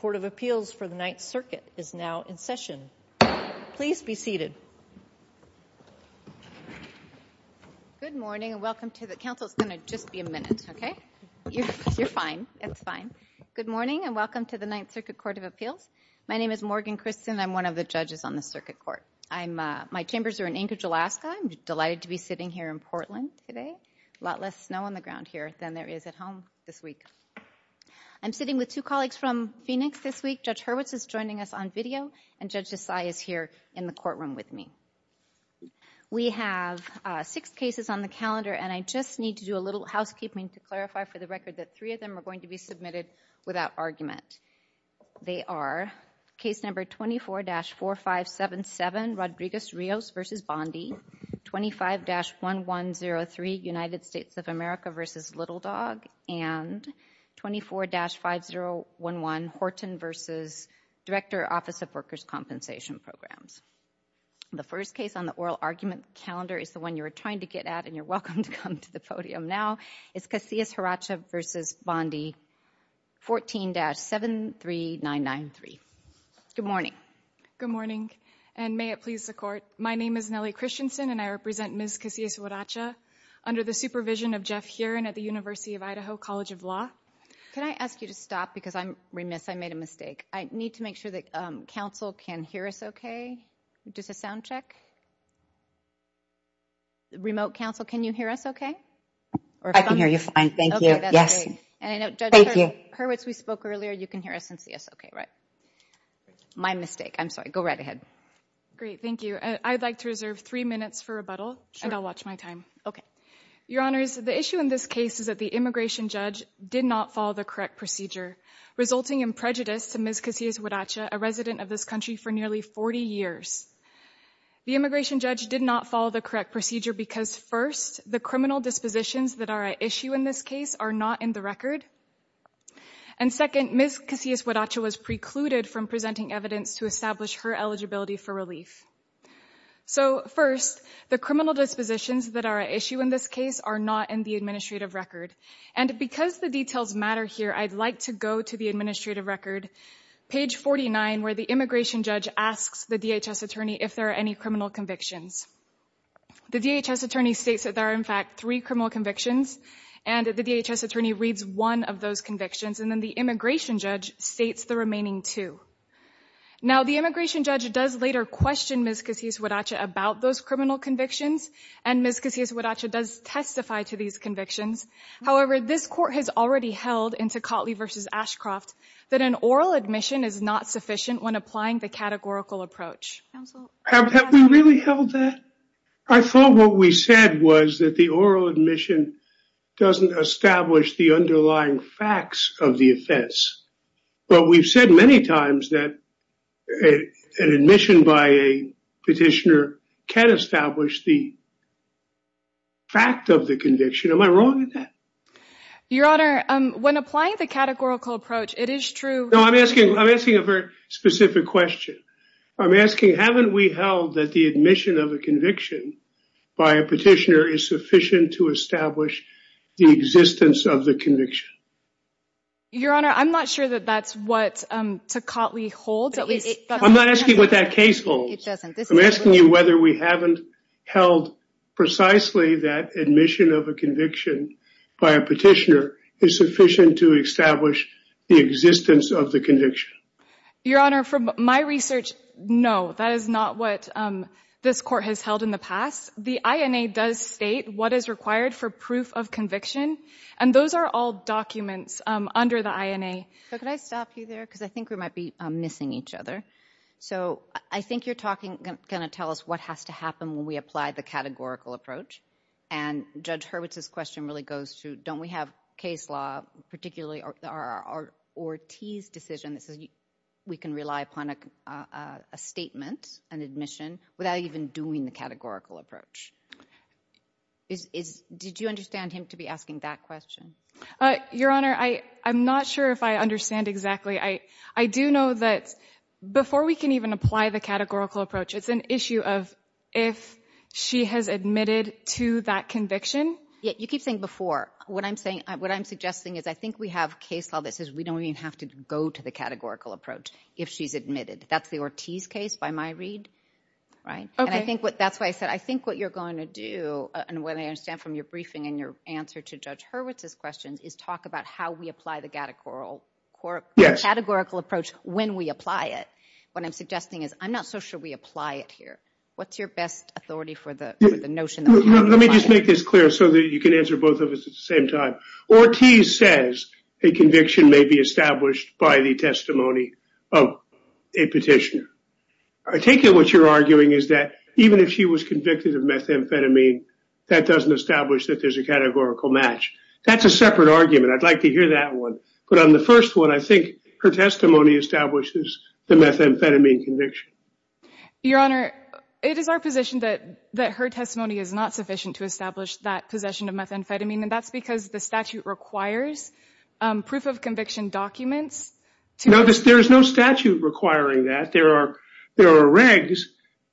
Court of Appeals for the Ninth Circuit is now in session. Please be seated. Good morning and welcome to the Ninth Circuit Court of Appeals. My name is Morgan Christen and I'm one of the judges on the Circuit Court. My chambers are in Anchorage, Alaska. I'm delighted to be sitting here in Portland today. A lot less snow on the ground here than there is at home this week. I'm sitting with two colleagues from Phoenix this week. Judge Hurwitz is joining us on video and Judge Desai is here in the courtroom with me. We have six cases on the calendar and I just need to do a little housekeeping to clarify for the record that three of them are going to be submitted without argument. They are case number 24-4577, Rodriguez-Rios v. Bondi, 25-1103, United States of America v. Little Dog, and 24-5011, Horton v. Director, Office of Workers' Compensation Programs. The first case on the oral argument calendar is the one you were trying to get at and you're welcome to come to the podium now. It's Casillas-Hurracha v. Bondi, 14-73993. Good morning. Good morning and may it please the Court. My name is Nellie Christensen and I represent Ms. Casillas-Hurracha under the supervision of Jeff Heeran at the University of Idaho College of Law. Can I ask you to stop because I'm remiss. I made a mistake. I need to make sure that counsel can hear us okay. Just a sound check. Remote counsel, can you hear us okay? I can hear you fine. Thank you. Yes. Thank you. Judge Hurwitz, we spoke earlier. You can hear us and see us okay, right? My mistake. I'm sorry. Go right ahead. Great. Thank you. I'd like to reserve three minutes for rebuttal and I'll watch my time. Your Honors, the issue in this case is that the immigration judge did not follow the correct procedure, resulting in prejudice to Ms. Casillas-Hurracha, a resident of this country for nearly 40 years. The immigration judge did not follow the correct procedure because first, the criminal dispositions that are at issue in this case are not in the record. And second, Ms. Casillas-Hurracha was precluded from presenting evidence to establish her eligibility for relief. So first, the criminal dispositions that are at issue in this case are not in the administrative record. And because the details matter here, I'd like to go to the administrative record, page 49, where the immigration judge asks the DHS attorney if there are any criminal convictions. The DHS attorney states that there are in fact three criminal convictions and the DHS attorney reads one of those convictions and then the immigration judge states the remaining two. Now, the immigration judge does later question Ms. Casillas-Hurracha about those criminal convictions and Ms. Casillas-Hurracha does testify to these convictions. However, this court has already held in Tocatli v. Ashcroft that an oral admission is not sufficient when applying the categorical approach. Have we really held that? I thought what we said was that the oral admission doesn't establish the underlying facts of the offense. But we've said many times that an admission by a petitioner can establish the fact of the conviction. Am I wrong in that? Your Honor, when applying the categorical approach, it is true. No, I'm asking a very specific question. I'm asking haven't we held that the admission of a conviction by a petitioner is sufficient to establish the existence of the conviction? Your Honor, I'm not sure that that's what Tocatli holds. I'm not asking what that case holds. I'm asking you whether we haven't held precisely that admission of a conviction by a petitioner is sufficient to establish the existence of the conviction. Your Honor, from my research, no, that is not what this court has held in the past. The INA does state what is required for proof of conviction. And those are all documents under the INA. So could I stop you there? Because I think we might be missing each other. So I think you're going to tell us what has to happen when we apply the categorical approach. And Judge Hurwitz's question really goes to don't we have case law, particularly Ortiz's decision that says we can rely upon a statement, an admission, without even doing the categorical approach. Did you understand him to be asking that question? Your Honor, I'm not sure if I understand exactly. I do know that before we can even apply the categorical approach, it's an issue of if she has admitted to that conviction. You keep saying before. What I'm suggesting is I think we have case law that says we don't even have to go to the categorical approach if she's admitted. That's the Ortiz case by my read, right? And I think that's why I said I think what you're going to do, and what I understand from your briefing and your answer to Judge Hurwitz's question, is talk about how we apply the categorical approach. Yes. Categorical approach when we apply it. What I'm suggesting is I'm not so sure we apply it here. What's your best authority for the notion? Let me just make this clear so that you can answer both of us at the same time. Ortiz says a conviction may be established by the testimony of a petitioner. I take it what you're arguing is that even if she was convicted of methamphetamine, that doesn't establish that there's a categorical match. That's a separate argument. I'd like to hear that one. But on the first one, I think her testimony establishes the methamphetamine conviction. Your Honor, it is our position that her testimony is not sufficient to establish that possession of methamphetamine, and that's because the statute requires proof of conviction documents. There is no statute requiring that. There are regs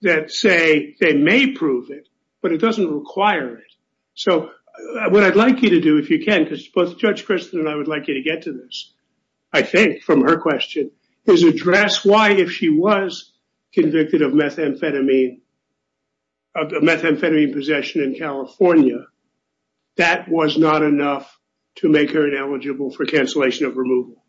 that say they may prove it, but it doesn't require it. So what I'd like you to do, if you can, because both Judge Kristen and I would like you to get to this, I think, from her question, is address why, if she was convicted of methamphetamine possession in California, that was not enough to make her ineligible for cancellation of removal.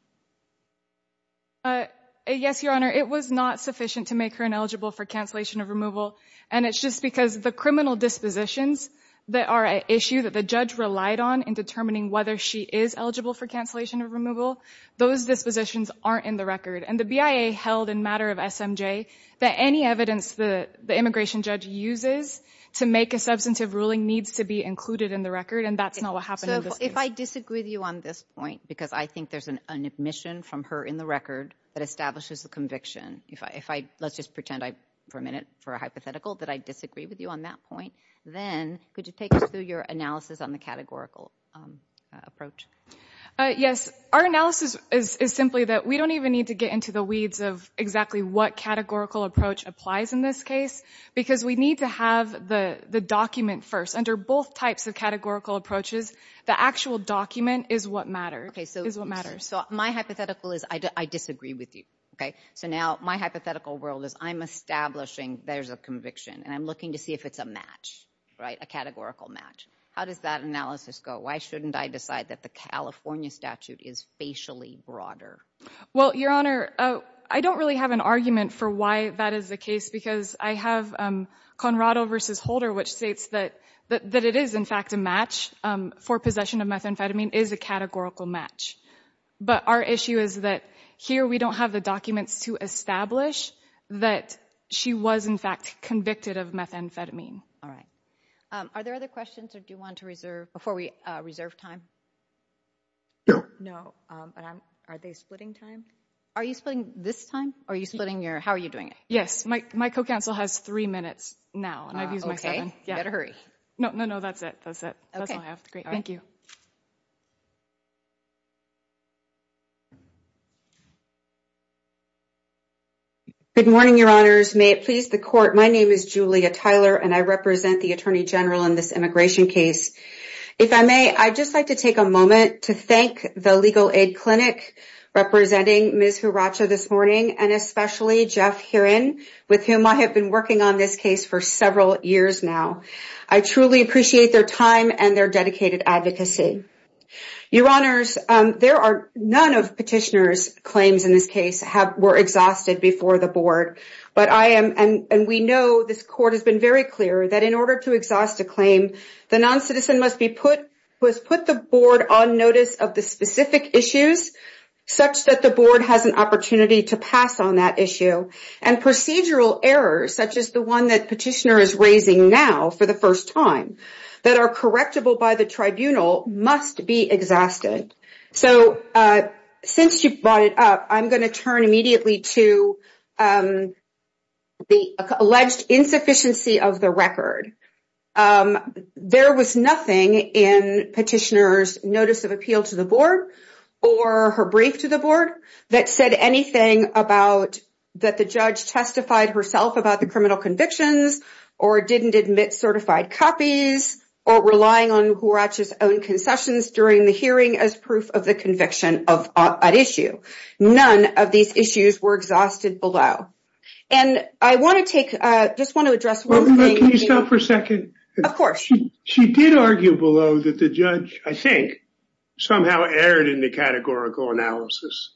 Yes, Your Honor. It was not sufficient to make her ineligible for cancellation of removal. And it's just because the criminal dispositions that are an issue that the judge relied on in determining whether she is eligible for cancellation of removal, those dispositions aren't in the record. And the BIA held in matter of SMJ that any evidence that the immigration judge uses to make a substantive ruling needs to be included in the record, and that's not what happened in this case. If I disagree with you on this point, because I think there's an admission from her in the record that establishes the conviction, let's just pretend for a minute for a hypothetical that I disagree with you on that point, then could you take us through your analysis on the categorical approach? Yes. Our analysis is simply that we don't even need to get into the weeds of exactly what categorical approach applies in this case, because we need to have the document first. Under both types of categorical approaches, the actual document is what matters. So my hypothetical is I disagree with you. So now my hypothetical world is I'm establishing there's a conviction, and I'm looking to see if it's a match, a categorical match. How does that analysis go? Why shouldn't I decide that the California statute is facially broader? Well, Your Honor, I don't really have an argument for why that is the case, because I have Conrado versus Holder, which states that it is, in fact, a match for possession of methamphetamine is a categorical match. But our issue is that here we don't have the documents to establish that she was, in fact, convicted of methamphetamine. All right. Are there other questions, or do you want to reserve before we reserve time? Are they splitting time? Are you splitting this time, or are you splitting your – how are you doing it? Yes. My co-counsel has three minutes now, and I've used my seven. Okay. You better hurry. No, no, no. That's it. That's it. That's all I have. Great. Thank you. Good morning, Your Honors. May it please the Court. My name is Julia Tyler, and I represent the Attorney General in this immigration case. If I may, I'd just like to take a moment to thank the Legal Aid Clinic, representing Ms. Huracha this morning, and especially Jeff Heron, with whom I have been working on this case for several years now. I truly appreciate their time and their dedicated advocacy. Your Honors, there are – none of Petitioner's claims in this case were exhausted before the Board. But I am – and we know this Court has been very clear that in order to exhaust a claim, the noncitizen must put the Board on notice of the specific issues such that the Board has an opportunity to pass on that issue. And procedural errors, such as the one that Petitioner is raising now for the first time, that are correctable by the Tribunal, must be exhausted. So, since you brought it up, I'm going to turn immediately to the alleged insufficiency of the record. There was nothing in Petitioner's notice of appeal to the Board or her brief to the Board that said anything about that the judge testified herself about the criminal convictions or didn't admit certified copies or relying on Huracha's own concessions during the hearing as proof of the conviction of an issue. None of these issues were exhausted below. And I want to take – just want to address one thing. Can you stop for a second? Of course. She did argue below that the judge, I think, somehow erred in the categorical analysis.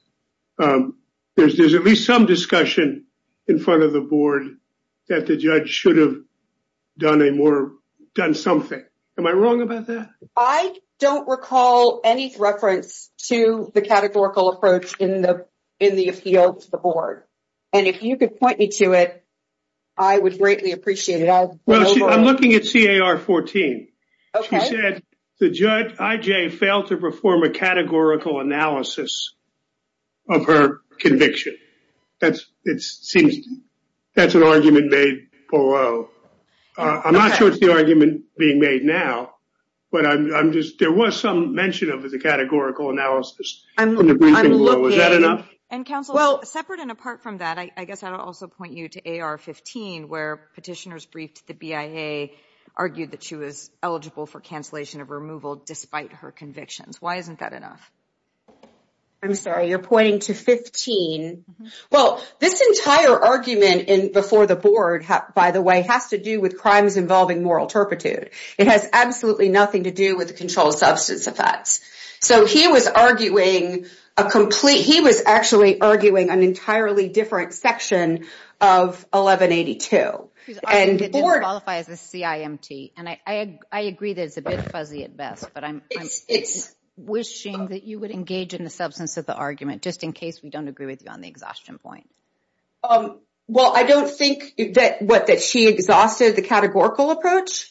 There's at least some discussion in front of the Board that the judge should have done a more – done something. Am I wrong about that? I don't recall any reference to the categorical approach in the appeal to the Board. And if you could point me to it, I would greatly appreciate it. Well, I'm looking at C.A.R. 14. Okay. She said the judge, I.J., failed to perform a categorical analysis of her conviction. That's – it seems – that's an argument made below. I'm not sure it's the argument being made now, but I'm just – there was some mention of the categorical analysis in the briefing below. I'm looking – Is that enough? And, counsel, separate and apart from that, I guess I would also point you to A.R. 15, where petitioners briefed the BIA, argued that she was eligible for cancellation of removal despite her convictions. Why isn't that enough? I'm sorry. You're pointing to 15. Well, this entire argument before the Board, by the way, has to do with crimes involving moral turpitude. It has absolutely nothing to do with controlled substance effects. So he was arguing a complete – he was actually arguing an entirely different section of 1182. Because I think it didn't qualify as a CIMT, and I agree that it's a bit fuzzy at best, but I'm wishing that you would engage in the substance of the argument, just in case we don't agree with you on the exhaustion point. Well, I don't think that – what, that she exhausted the categorical approach?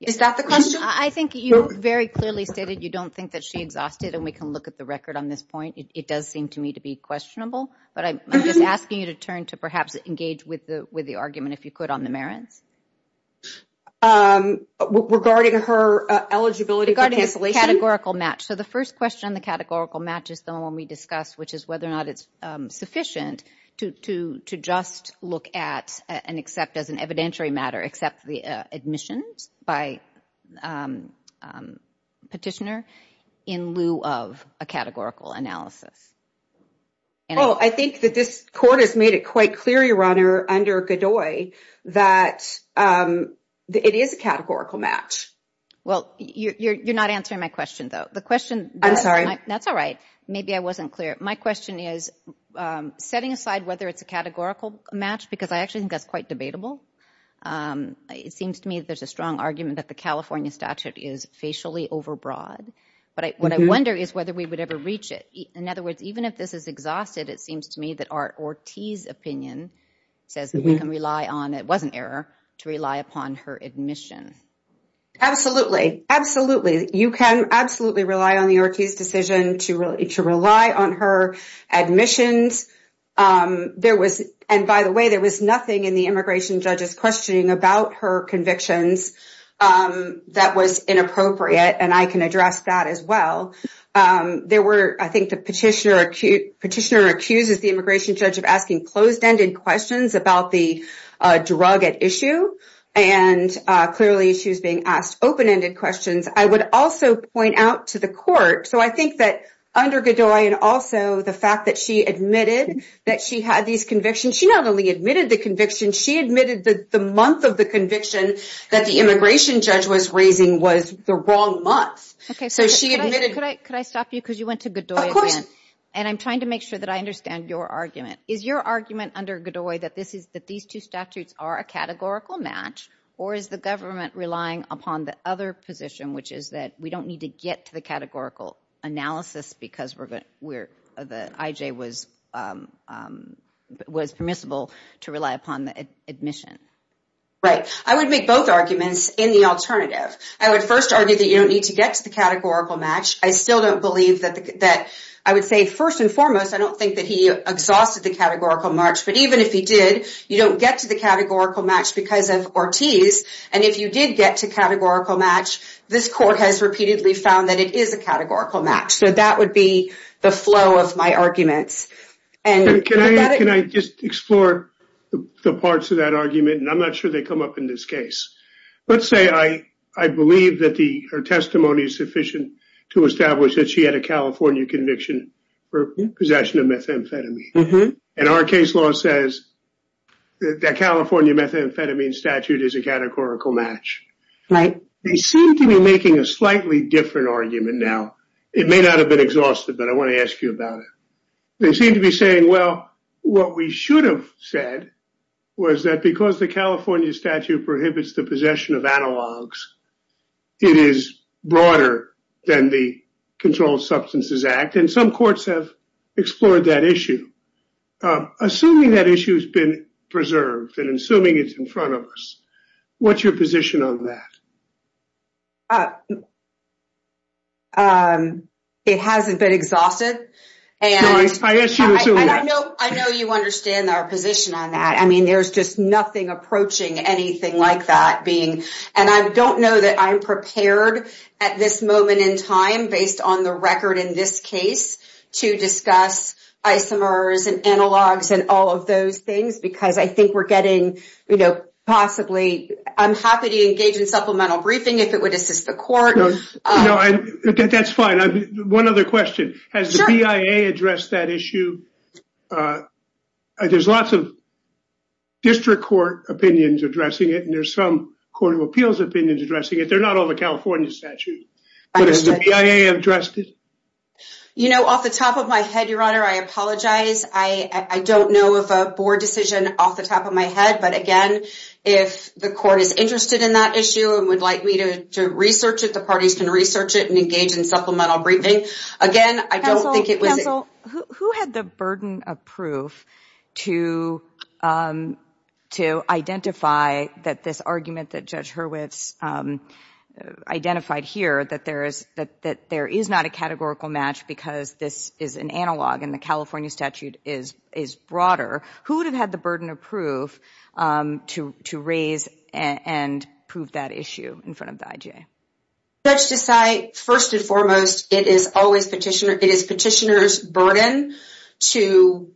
Is that the question? I think you very clearly stated you don't think that she exhausted, and we can look at the record on this point. It does seem to me to be questionable. But I'm just asking you to turn to perhaps engage with the argument, if you could, on the merits. Regarding her eligibility for cancellation? Regarding the categorical match. So the first question on the categorical match is the one we discussed, which is whether or not it's sufficient to just look at and accept as an evidentiary matter, accept the admissions by petitioner in lieu of a categorical analysis? Well, I think that this court has made it quite clear, Your Honor, under Godoy, that it is a categorical match. Well, you're not answering my question, though. The question – I'm sorry. That's all right. Maybe I wasn't clear. My question is, setting aside whether it's a categorical match, because I actually think that's quite debatable, it seems to me there's a strong argument that the California statute is facially overbroad. But what I wonder is whether we would ever reach it. In other words, even if this is exhausted, it seems to me that Art Ortiz's opinion says that we can rely on – it was an error – to rely upon her admission. Absolutely. Absolutely. You can absolutely rely on the Ortiz decision to rely on her admissions. And by the way, there was nothing in the immigration judge's questioning about her convictions that was inappropriate, and I can address that as well. I think the petitioner accuses the immigration judge of asking closed-ended questions about the drug at issue, and clearly she was being asked open-ended questions. I would also point out to the court – so I think that under Godoy and also the fact that she admitted that she had these convictions, she not only admitted the conviction, she admitted that the month of the conviction that the immigration judge was raising was the wrong month. So she admitted – Could I stop you? Because you went to Godoy again. And I'm trying to make sure that I understand your argument. Is your argument under Godoy that these two statutes are a categorical match, or is the government relying upon the other position, which is that we don't need to get to the categorical analysis because the IJ was permissible to rely upon the admission? Right. I would make both arguments in the alternative. I would first argue that you don't need to get to the categorical match. I still don't believe that – I would say first and foremost, I don't think that he exhausted the categorical match. But even if he did, you don't get to the categorical match because of Ortiz. And if you did get to categorical match, this court has repeatedly found that it is a categorical match. So that would be the flow of my arguments. Can I just explore the parts of that argument? And I'm not sure they come up in this case. Let's say I believe that her testimony is sufficient to establish that she had a California conviction for possession of methamphetamine. And our case law says that California methamphetamine statute is a categorical match. Right. They seem to be making a slightly different argument now. It may not have been exhausted, but I want to ask you about it. They seem to be saying, well, what we should have said was that because the California statute prohibits the possession of analogs, it is broader than the Controlled Substances Act. And some courts have explored that issue, assuming that issue has been preserved and assuming it's in front of us. What's your position on that? It hasn't been exhausted. I assume that. I know you understand our position on that. I mean, there's just nothing approaching anything like that. And I don't know that I'm prepared at this moment in time, based on the record in this case, to discuss isomers and analogs and all of those things because I think we're getting, you know, possibly. I'm happy to engage in supplemental briefing if it would assist the court. No, that's fine. One other question. Has the BIA addressed that issue? There's lots of district court opinions addressing it, and there's some court of appeals opinions addressing it. They're not all the California statute, but has the BIA addressed it? You know, off the top of my head, Your Honor, I apologize. I don't know of a board decision off the top of my head. But, again, if the court is interested in that issue and would like me to research it, the parties can research it and engage in supplemental briefing. Again, I don't think it was. Counsel, who had the burden of proof to identify that this argument that Judge Hurwitz identified here, that there is not a categorical match because this is an analog and the California statute is broader? Who would have had the burden of proof to raise and prove that issue in front of the IGA? Judge Desai, first and foremost, it is petitioner's burden to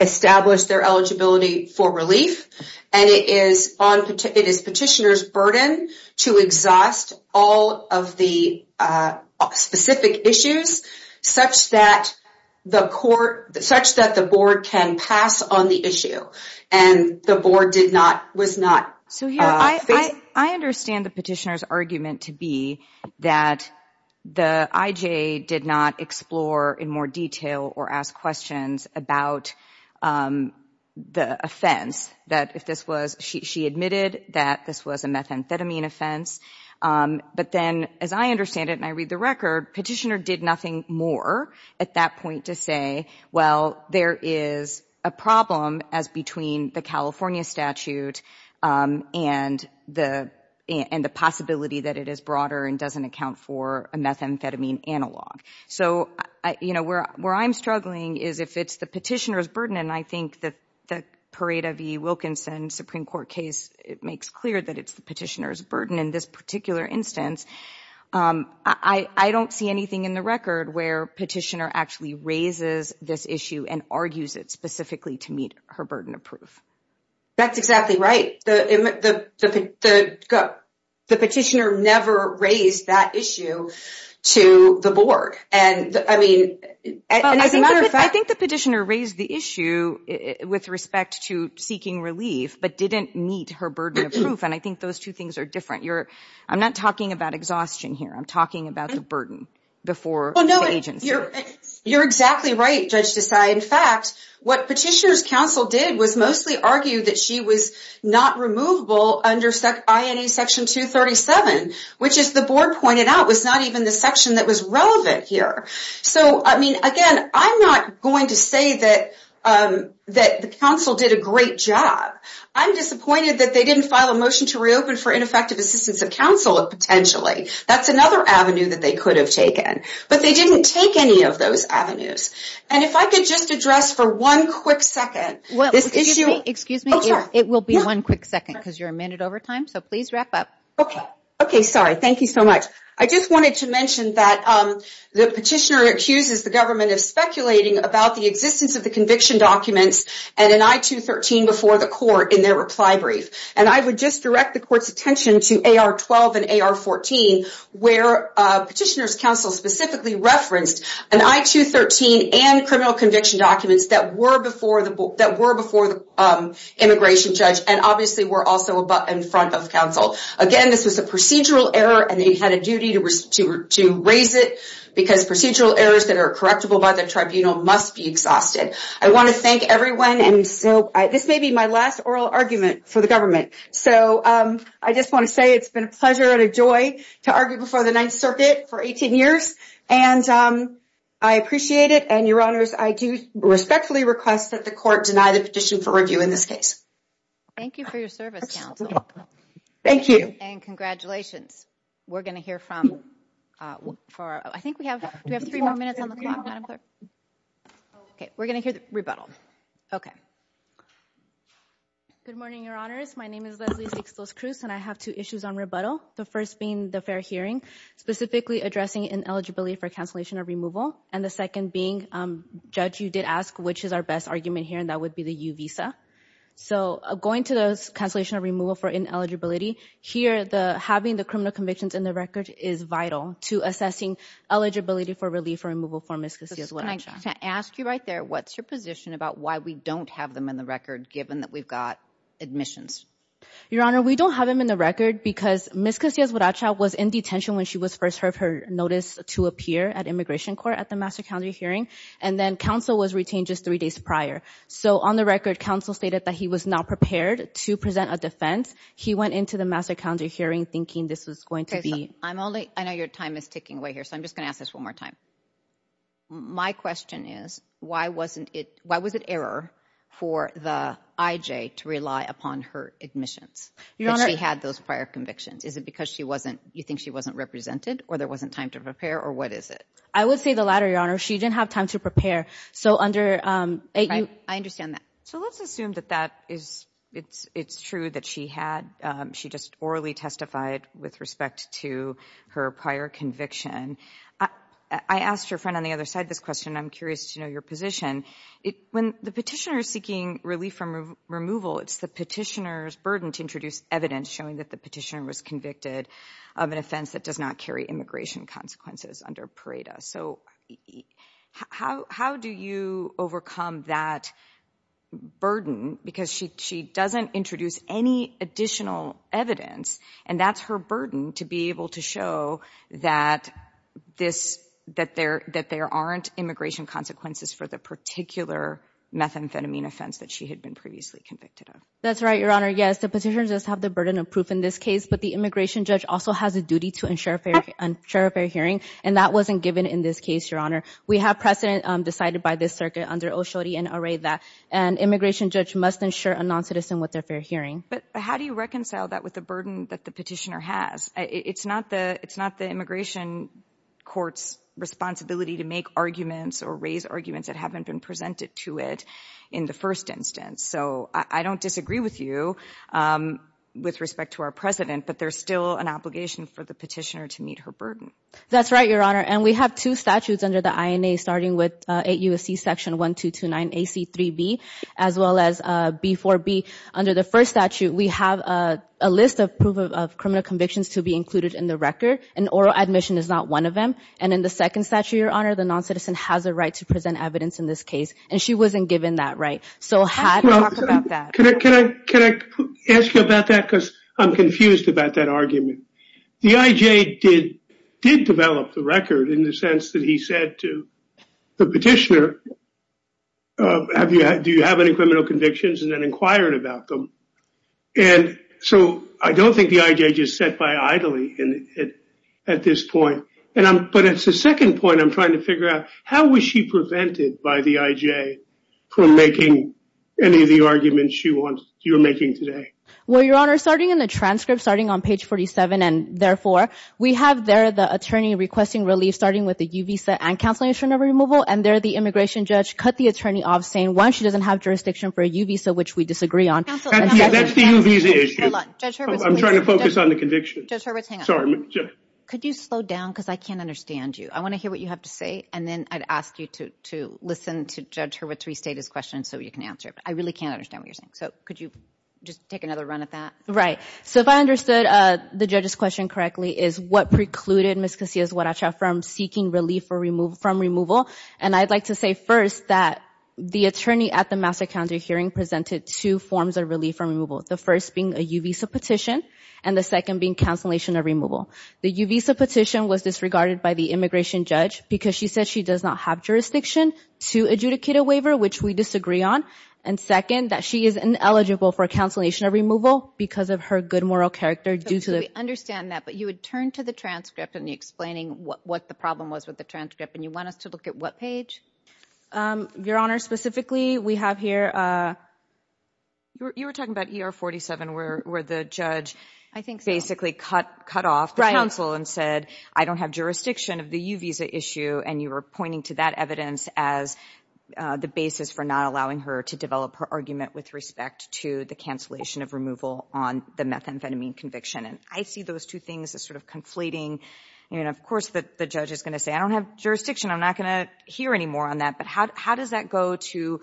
establish their eligibility for relief, and it is petitioner's burden to exhaust all of the specific issues such that the board can pass on the issue. And the board did not, was not. So here, I understand the petitioner's argument to be that the IGA did not explore in more detail or ask questions about the offense, that if this was, she admitted that this was a methamphetamine offense. But then, as I understand it, and I read the record, petitioner did nothing more at that point to say, well, there is a problem as between the California statute and the possibility that it is broader and doesn't account for a methamphetamine analog. So, you know, where I'm struggling is if it's the petitioner's burden, and I think that the Pareda v. Wilkinson Supreme Court case, it makes clear that it's the petitioner's burden in this particular instance. I don't see anything in the record where petitioner actually raises this issue and argues it specifically to meet her burden of proof. That's exactly right. The petitioner never raised that issue to the board. And, I mean, as a matter of fact. I think the petitioner raised the issue with respect to seeking relief, but didn't meet her burden of proof. And I think those two things are different. I'm not talking about exhaustion here. I'm talking about the burden before the agency. You're exactly right, Judge Desai. In fact, what petitioner's counsel did was mostly argue that she was not removable under INA Section 237, which, as the board pointed out, was not even the section that was relevant here. So, I mean, again, I'm not going to say that the counsel did a great job. I'm disappointed that they didn't file a motion to reopen for ineffective assistance of counsel, potentially. That's another avenue that they could have taken. But they didn't take any of those avenues. And if I could just address for one quick second this issue. Excuse me. It will be one quick second because you're a minute over time, so please wrap up. Okay. Okay, sorry. Thank you so much. I just wanted to mention that the petitioner accuses the government of speculating about the existence of the conviction documents and an I-213 before the court in their reply brief. And I would just direct the court's attention to AR-12 and AR-14, where petitioner's counsel specifically referenced an I-213 and criminal conviction documents that were before the immigration judge and obviously were also in front of counsel. Again, this was a procedural error, and they had a duty to raise it because procedural errors that are correctable by the tribunal must be exhausted. I want to thank everyone. And so this may be my last oral argument for the government. So I just want to say it's been a pleasure and a joy to argue before the Ninth Circuit for 18 years. And I appreciate it. And, Your Honors, I do respectfully request that the court deny the petition for review in this case. Thank you for your service, counsel. Thank you. And congratulations. We're going to hear from, I think we have three more minutes on the clock. Okay, we're going to hear the rebuttal. Okay. Good morning, Your Honors. My name is Leslie Cixlos-Cruz, and I have two issues on rebuttal, the first being the fair hearing, specifically addressing ineligibility for cancellation of removal, and the second being, Judge, you did ask which is our best argument here, and that would be the U visa. So going to the cancellation of removal for ineligibility, here having the criminal convictions in the record is vital to assessing eligibility for relief or removal for miscasy as well. Can I ask you right there, what's your position about why we don't have them in the record, given that we've got admissions? Your Honor, we don't have them in the record because Miss Casillas-Huaracha was in detention when she was first heard her notice to appear at immigration court at the Master Calendar hearing, and then counsel was retained just three days prior. So on the record, counsel stated that he was not prepared to present a defense. He went into the Master Calendar hearing thinking this was going to be. I know your time is ticking away here, so I'm just going to ask this one more time. My question is, why was it error for the IJ to rely upon her admissions? She had those prior convictions. Is it because you think she wasn't represented or there wasn't time to prepare, or what is it? I would say the latter, Your Honor. She didn't have time to prepare. I understand that. So let's assume that it's true that she had. She just orally testified with respect to her prior conviction. I asked her friend on the other side this question. I'm curious to know your position. When the petitioner is seeking relief from removal, it's the petitioner's burden to introduce evidence showing that the petitioner was convicted of an offense that does not carry immigration consequences under PRADA. So how do you overcome that burden? Because she doesn't introduce any additional evidence, and that's her burden to be able to show that there aren't immigration consequences for the particular methamphetamine offense that she had been previously convicted of. That's right, Your Honor. Yes, the petitioner does have the burden of proof in this case, but the immigration judge also has a duty to ensure a fair hearing, and that wasn't given in this case, Your Honor. We have precedent decided by this circuit under OSHODI and AREVA, and immigration judge must ensure a noncitizen with a fair hearing. But how do you reconcile that with the burden that the petitioner has? It's not the immigration court's responsibility to make arguments or raise arguments that haven't been presented to it in the first instance. So I don't disagree with you with respect to our precedent, but there's still an obligation for the petitioner to meet her burden. That's right, Your Honor, and we have two statutes under the INA, starting with 8 U.S.C. section 1229AC3B as well as B4B. Under the first statute, we have a list of proof of criminal convictions to be included in the record, and oral admission is not one of them. And in the second statute, Your Honor, the noncitizen has a right to present evidence in this case, and she wasn't given that right. So how do you talk about that? Can I ask you about that because I'm confused about that argument? The IJ did develop the record in the sense that he said to the petitioner, do you have any criminal convictions? And then inquired about them. And so I don't think the IJ just set by idly at this point. But it's the second point I'm trying to figure out. How was she prevented by the IJ from making any of the arguments you're making today? Well, Your Honor, starting in the transcript, starting on page 47, and therefore we have there the attorney requesting relief, starting with the U visa and counseling insurance removal, and there the immigration judge cut the attorney off saying, one, she doesn't have jurisdiction for a U visa, which we disagree on. That's the U visa issue. Hold on. Judge Hurwitz. I'm trying to focus on the conviction. Judge Hurwitz, hang on. Sorry. Could you slow down because I can't understand you. I want to hear what you have to say, and then I'd ask you to listen to Judge Hurwitz restate his question so you can answer it. I really can't understand what you're saying. So could you just take another run at that? Right. So if I understood the judge's question correctly, it is what precluded Ms. Casillas-Huaracha from seeking relief from removal, and I'd like to say first that the attorney at the Master Counsel hearing presented two forms of relief from removal, the first being a U visa petition, and the second being counseling insurance removal. The U visa petition was disregarded by the immigration judge because she said she does not have jurisdiction to adjudicate a waiver, which we disagree on, and second, that she is ineligible for counseling insurance removal because of her good moral character due to the ---- I understand that, but you would turn to the transcript in explaining what the problem was with the transcript, and you want us to look at what page? Your Honor, specifically we have here, you were talking about ER 47 where the judge basically cut off the counsel and said I don't have jurisdiction of the U visa issue, and you were pointing to that evidence as the basis for not allowing her to develop her argument with respect to the cancellation of removal on the methamphetamine conviction. And I see those two things as sort of conflating, and of course the judge is going to say I don't have jurisdiction, I'm not going to hear any more on that, but how does that go to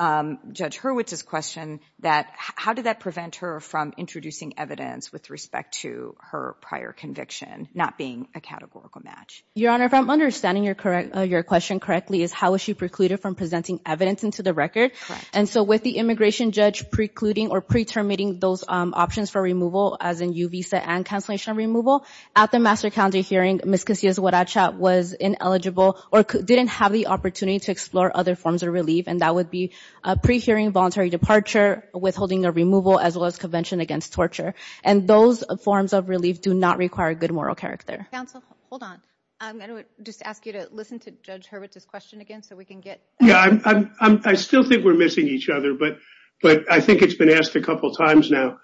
Judge Hurwitz's question that how did that prevent her from introducing evidence with respect to her prior conviction not being a categorical match? Your Honor, if I'm understanding your question correctly, is how was she precluded from presenting evidence into the record? Correct. And so with the immigration judge precluding or pretermiting those options for removal as in U visa and cancellation removal, at the Master County hearing Ms. Casillas Huaracha was ineligible or didn't have the opportunity to explore other forms of relief, and that would be a pre-hearing voluntary departure, withholding of removal, as well as convention against torture. And those forms of relief do not require good moral character. Counsel, hold on. I'm going to just ask you to listen to Judge Hurwitz's question again so we can get. Yeah, I still think we're missing each other, but I think it's been asked a couple times now.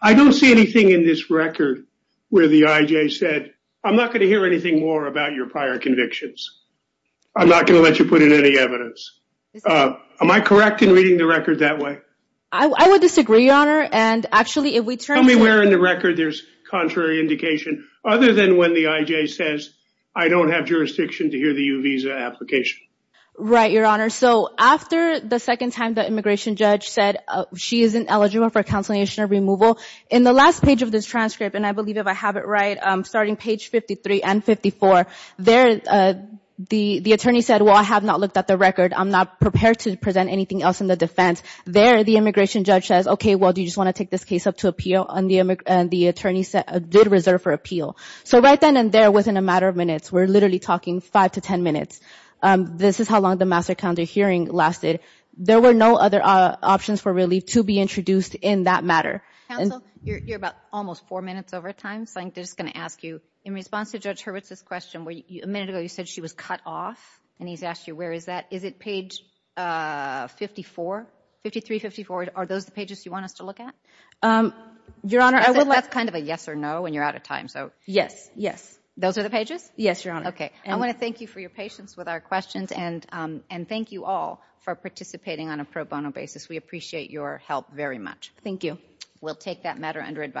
I don't see anything in this record where the IJ said, I'm not going to hear anything more about your prior convictions. I'm not going to let you put in any evidence. Am I correct in reading the record that way? I would disagree, Your Honor, and actually if we turn to. Tell me where in the record there's contrary indication other than when the IJ says, I don't have jurisdiction to hear the U visa application. Right, Your Honor. So after the second time the immigration judge said she isn't eligible for consolidation or removal, in the last page of this transcript, and I believe if I have it right, starting page 53 and 54, there the attorney said, well, I have not looked at the record. I'm not prepared to present anything else in the defense. There the immigration judge says, okay, well, do you just want to take this case up to appeal? And the attorney did reserve for appeal. So right then and there within a matter of minutes, we're literally talking five to ten minutes, this is how long the master counter hearing lasted. There were no other options for relief to be introduced in that matter. Counsel, you're about almost four minutes over time, so I'm just going to ask you, in response to Judge Hurwitz's question where a minute ago you said she was cut off and he's asked you where is that, is it page 54, 53, 54? Are those the pages you want us to look at? Your Honor, I would like to. That's kind of a yes or no and you're out of time, so. Yes, yes. Those are the pages? Yes, Your Honor. Okay. I want to thank you for your patience with our questions and thank you all for participating on a pro bono basis. We appreciate your help very much. Thank you. We'll take that matter under advice.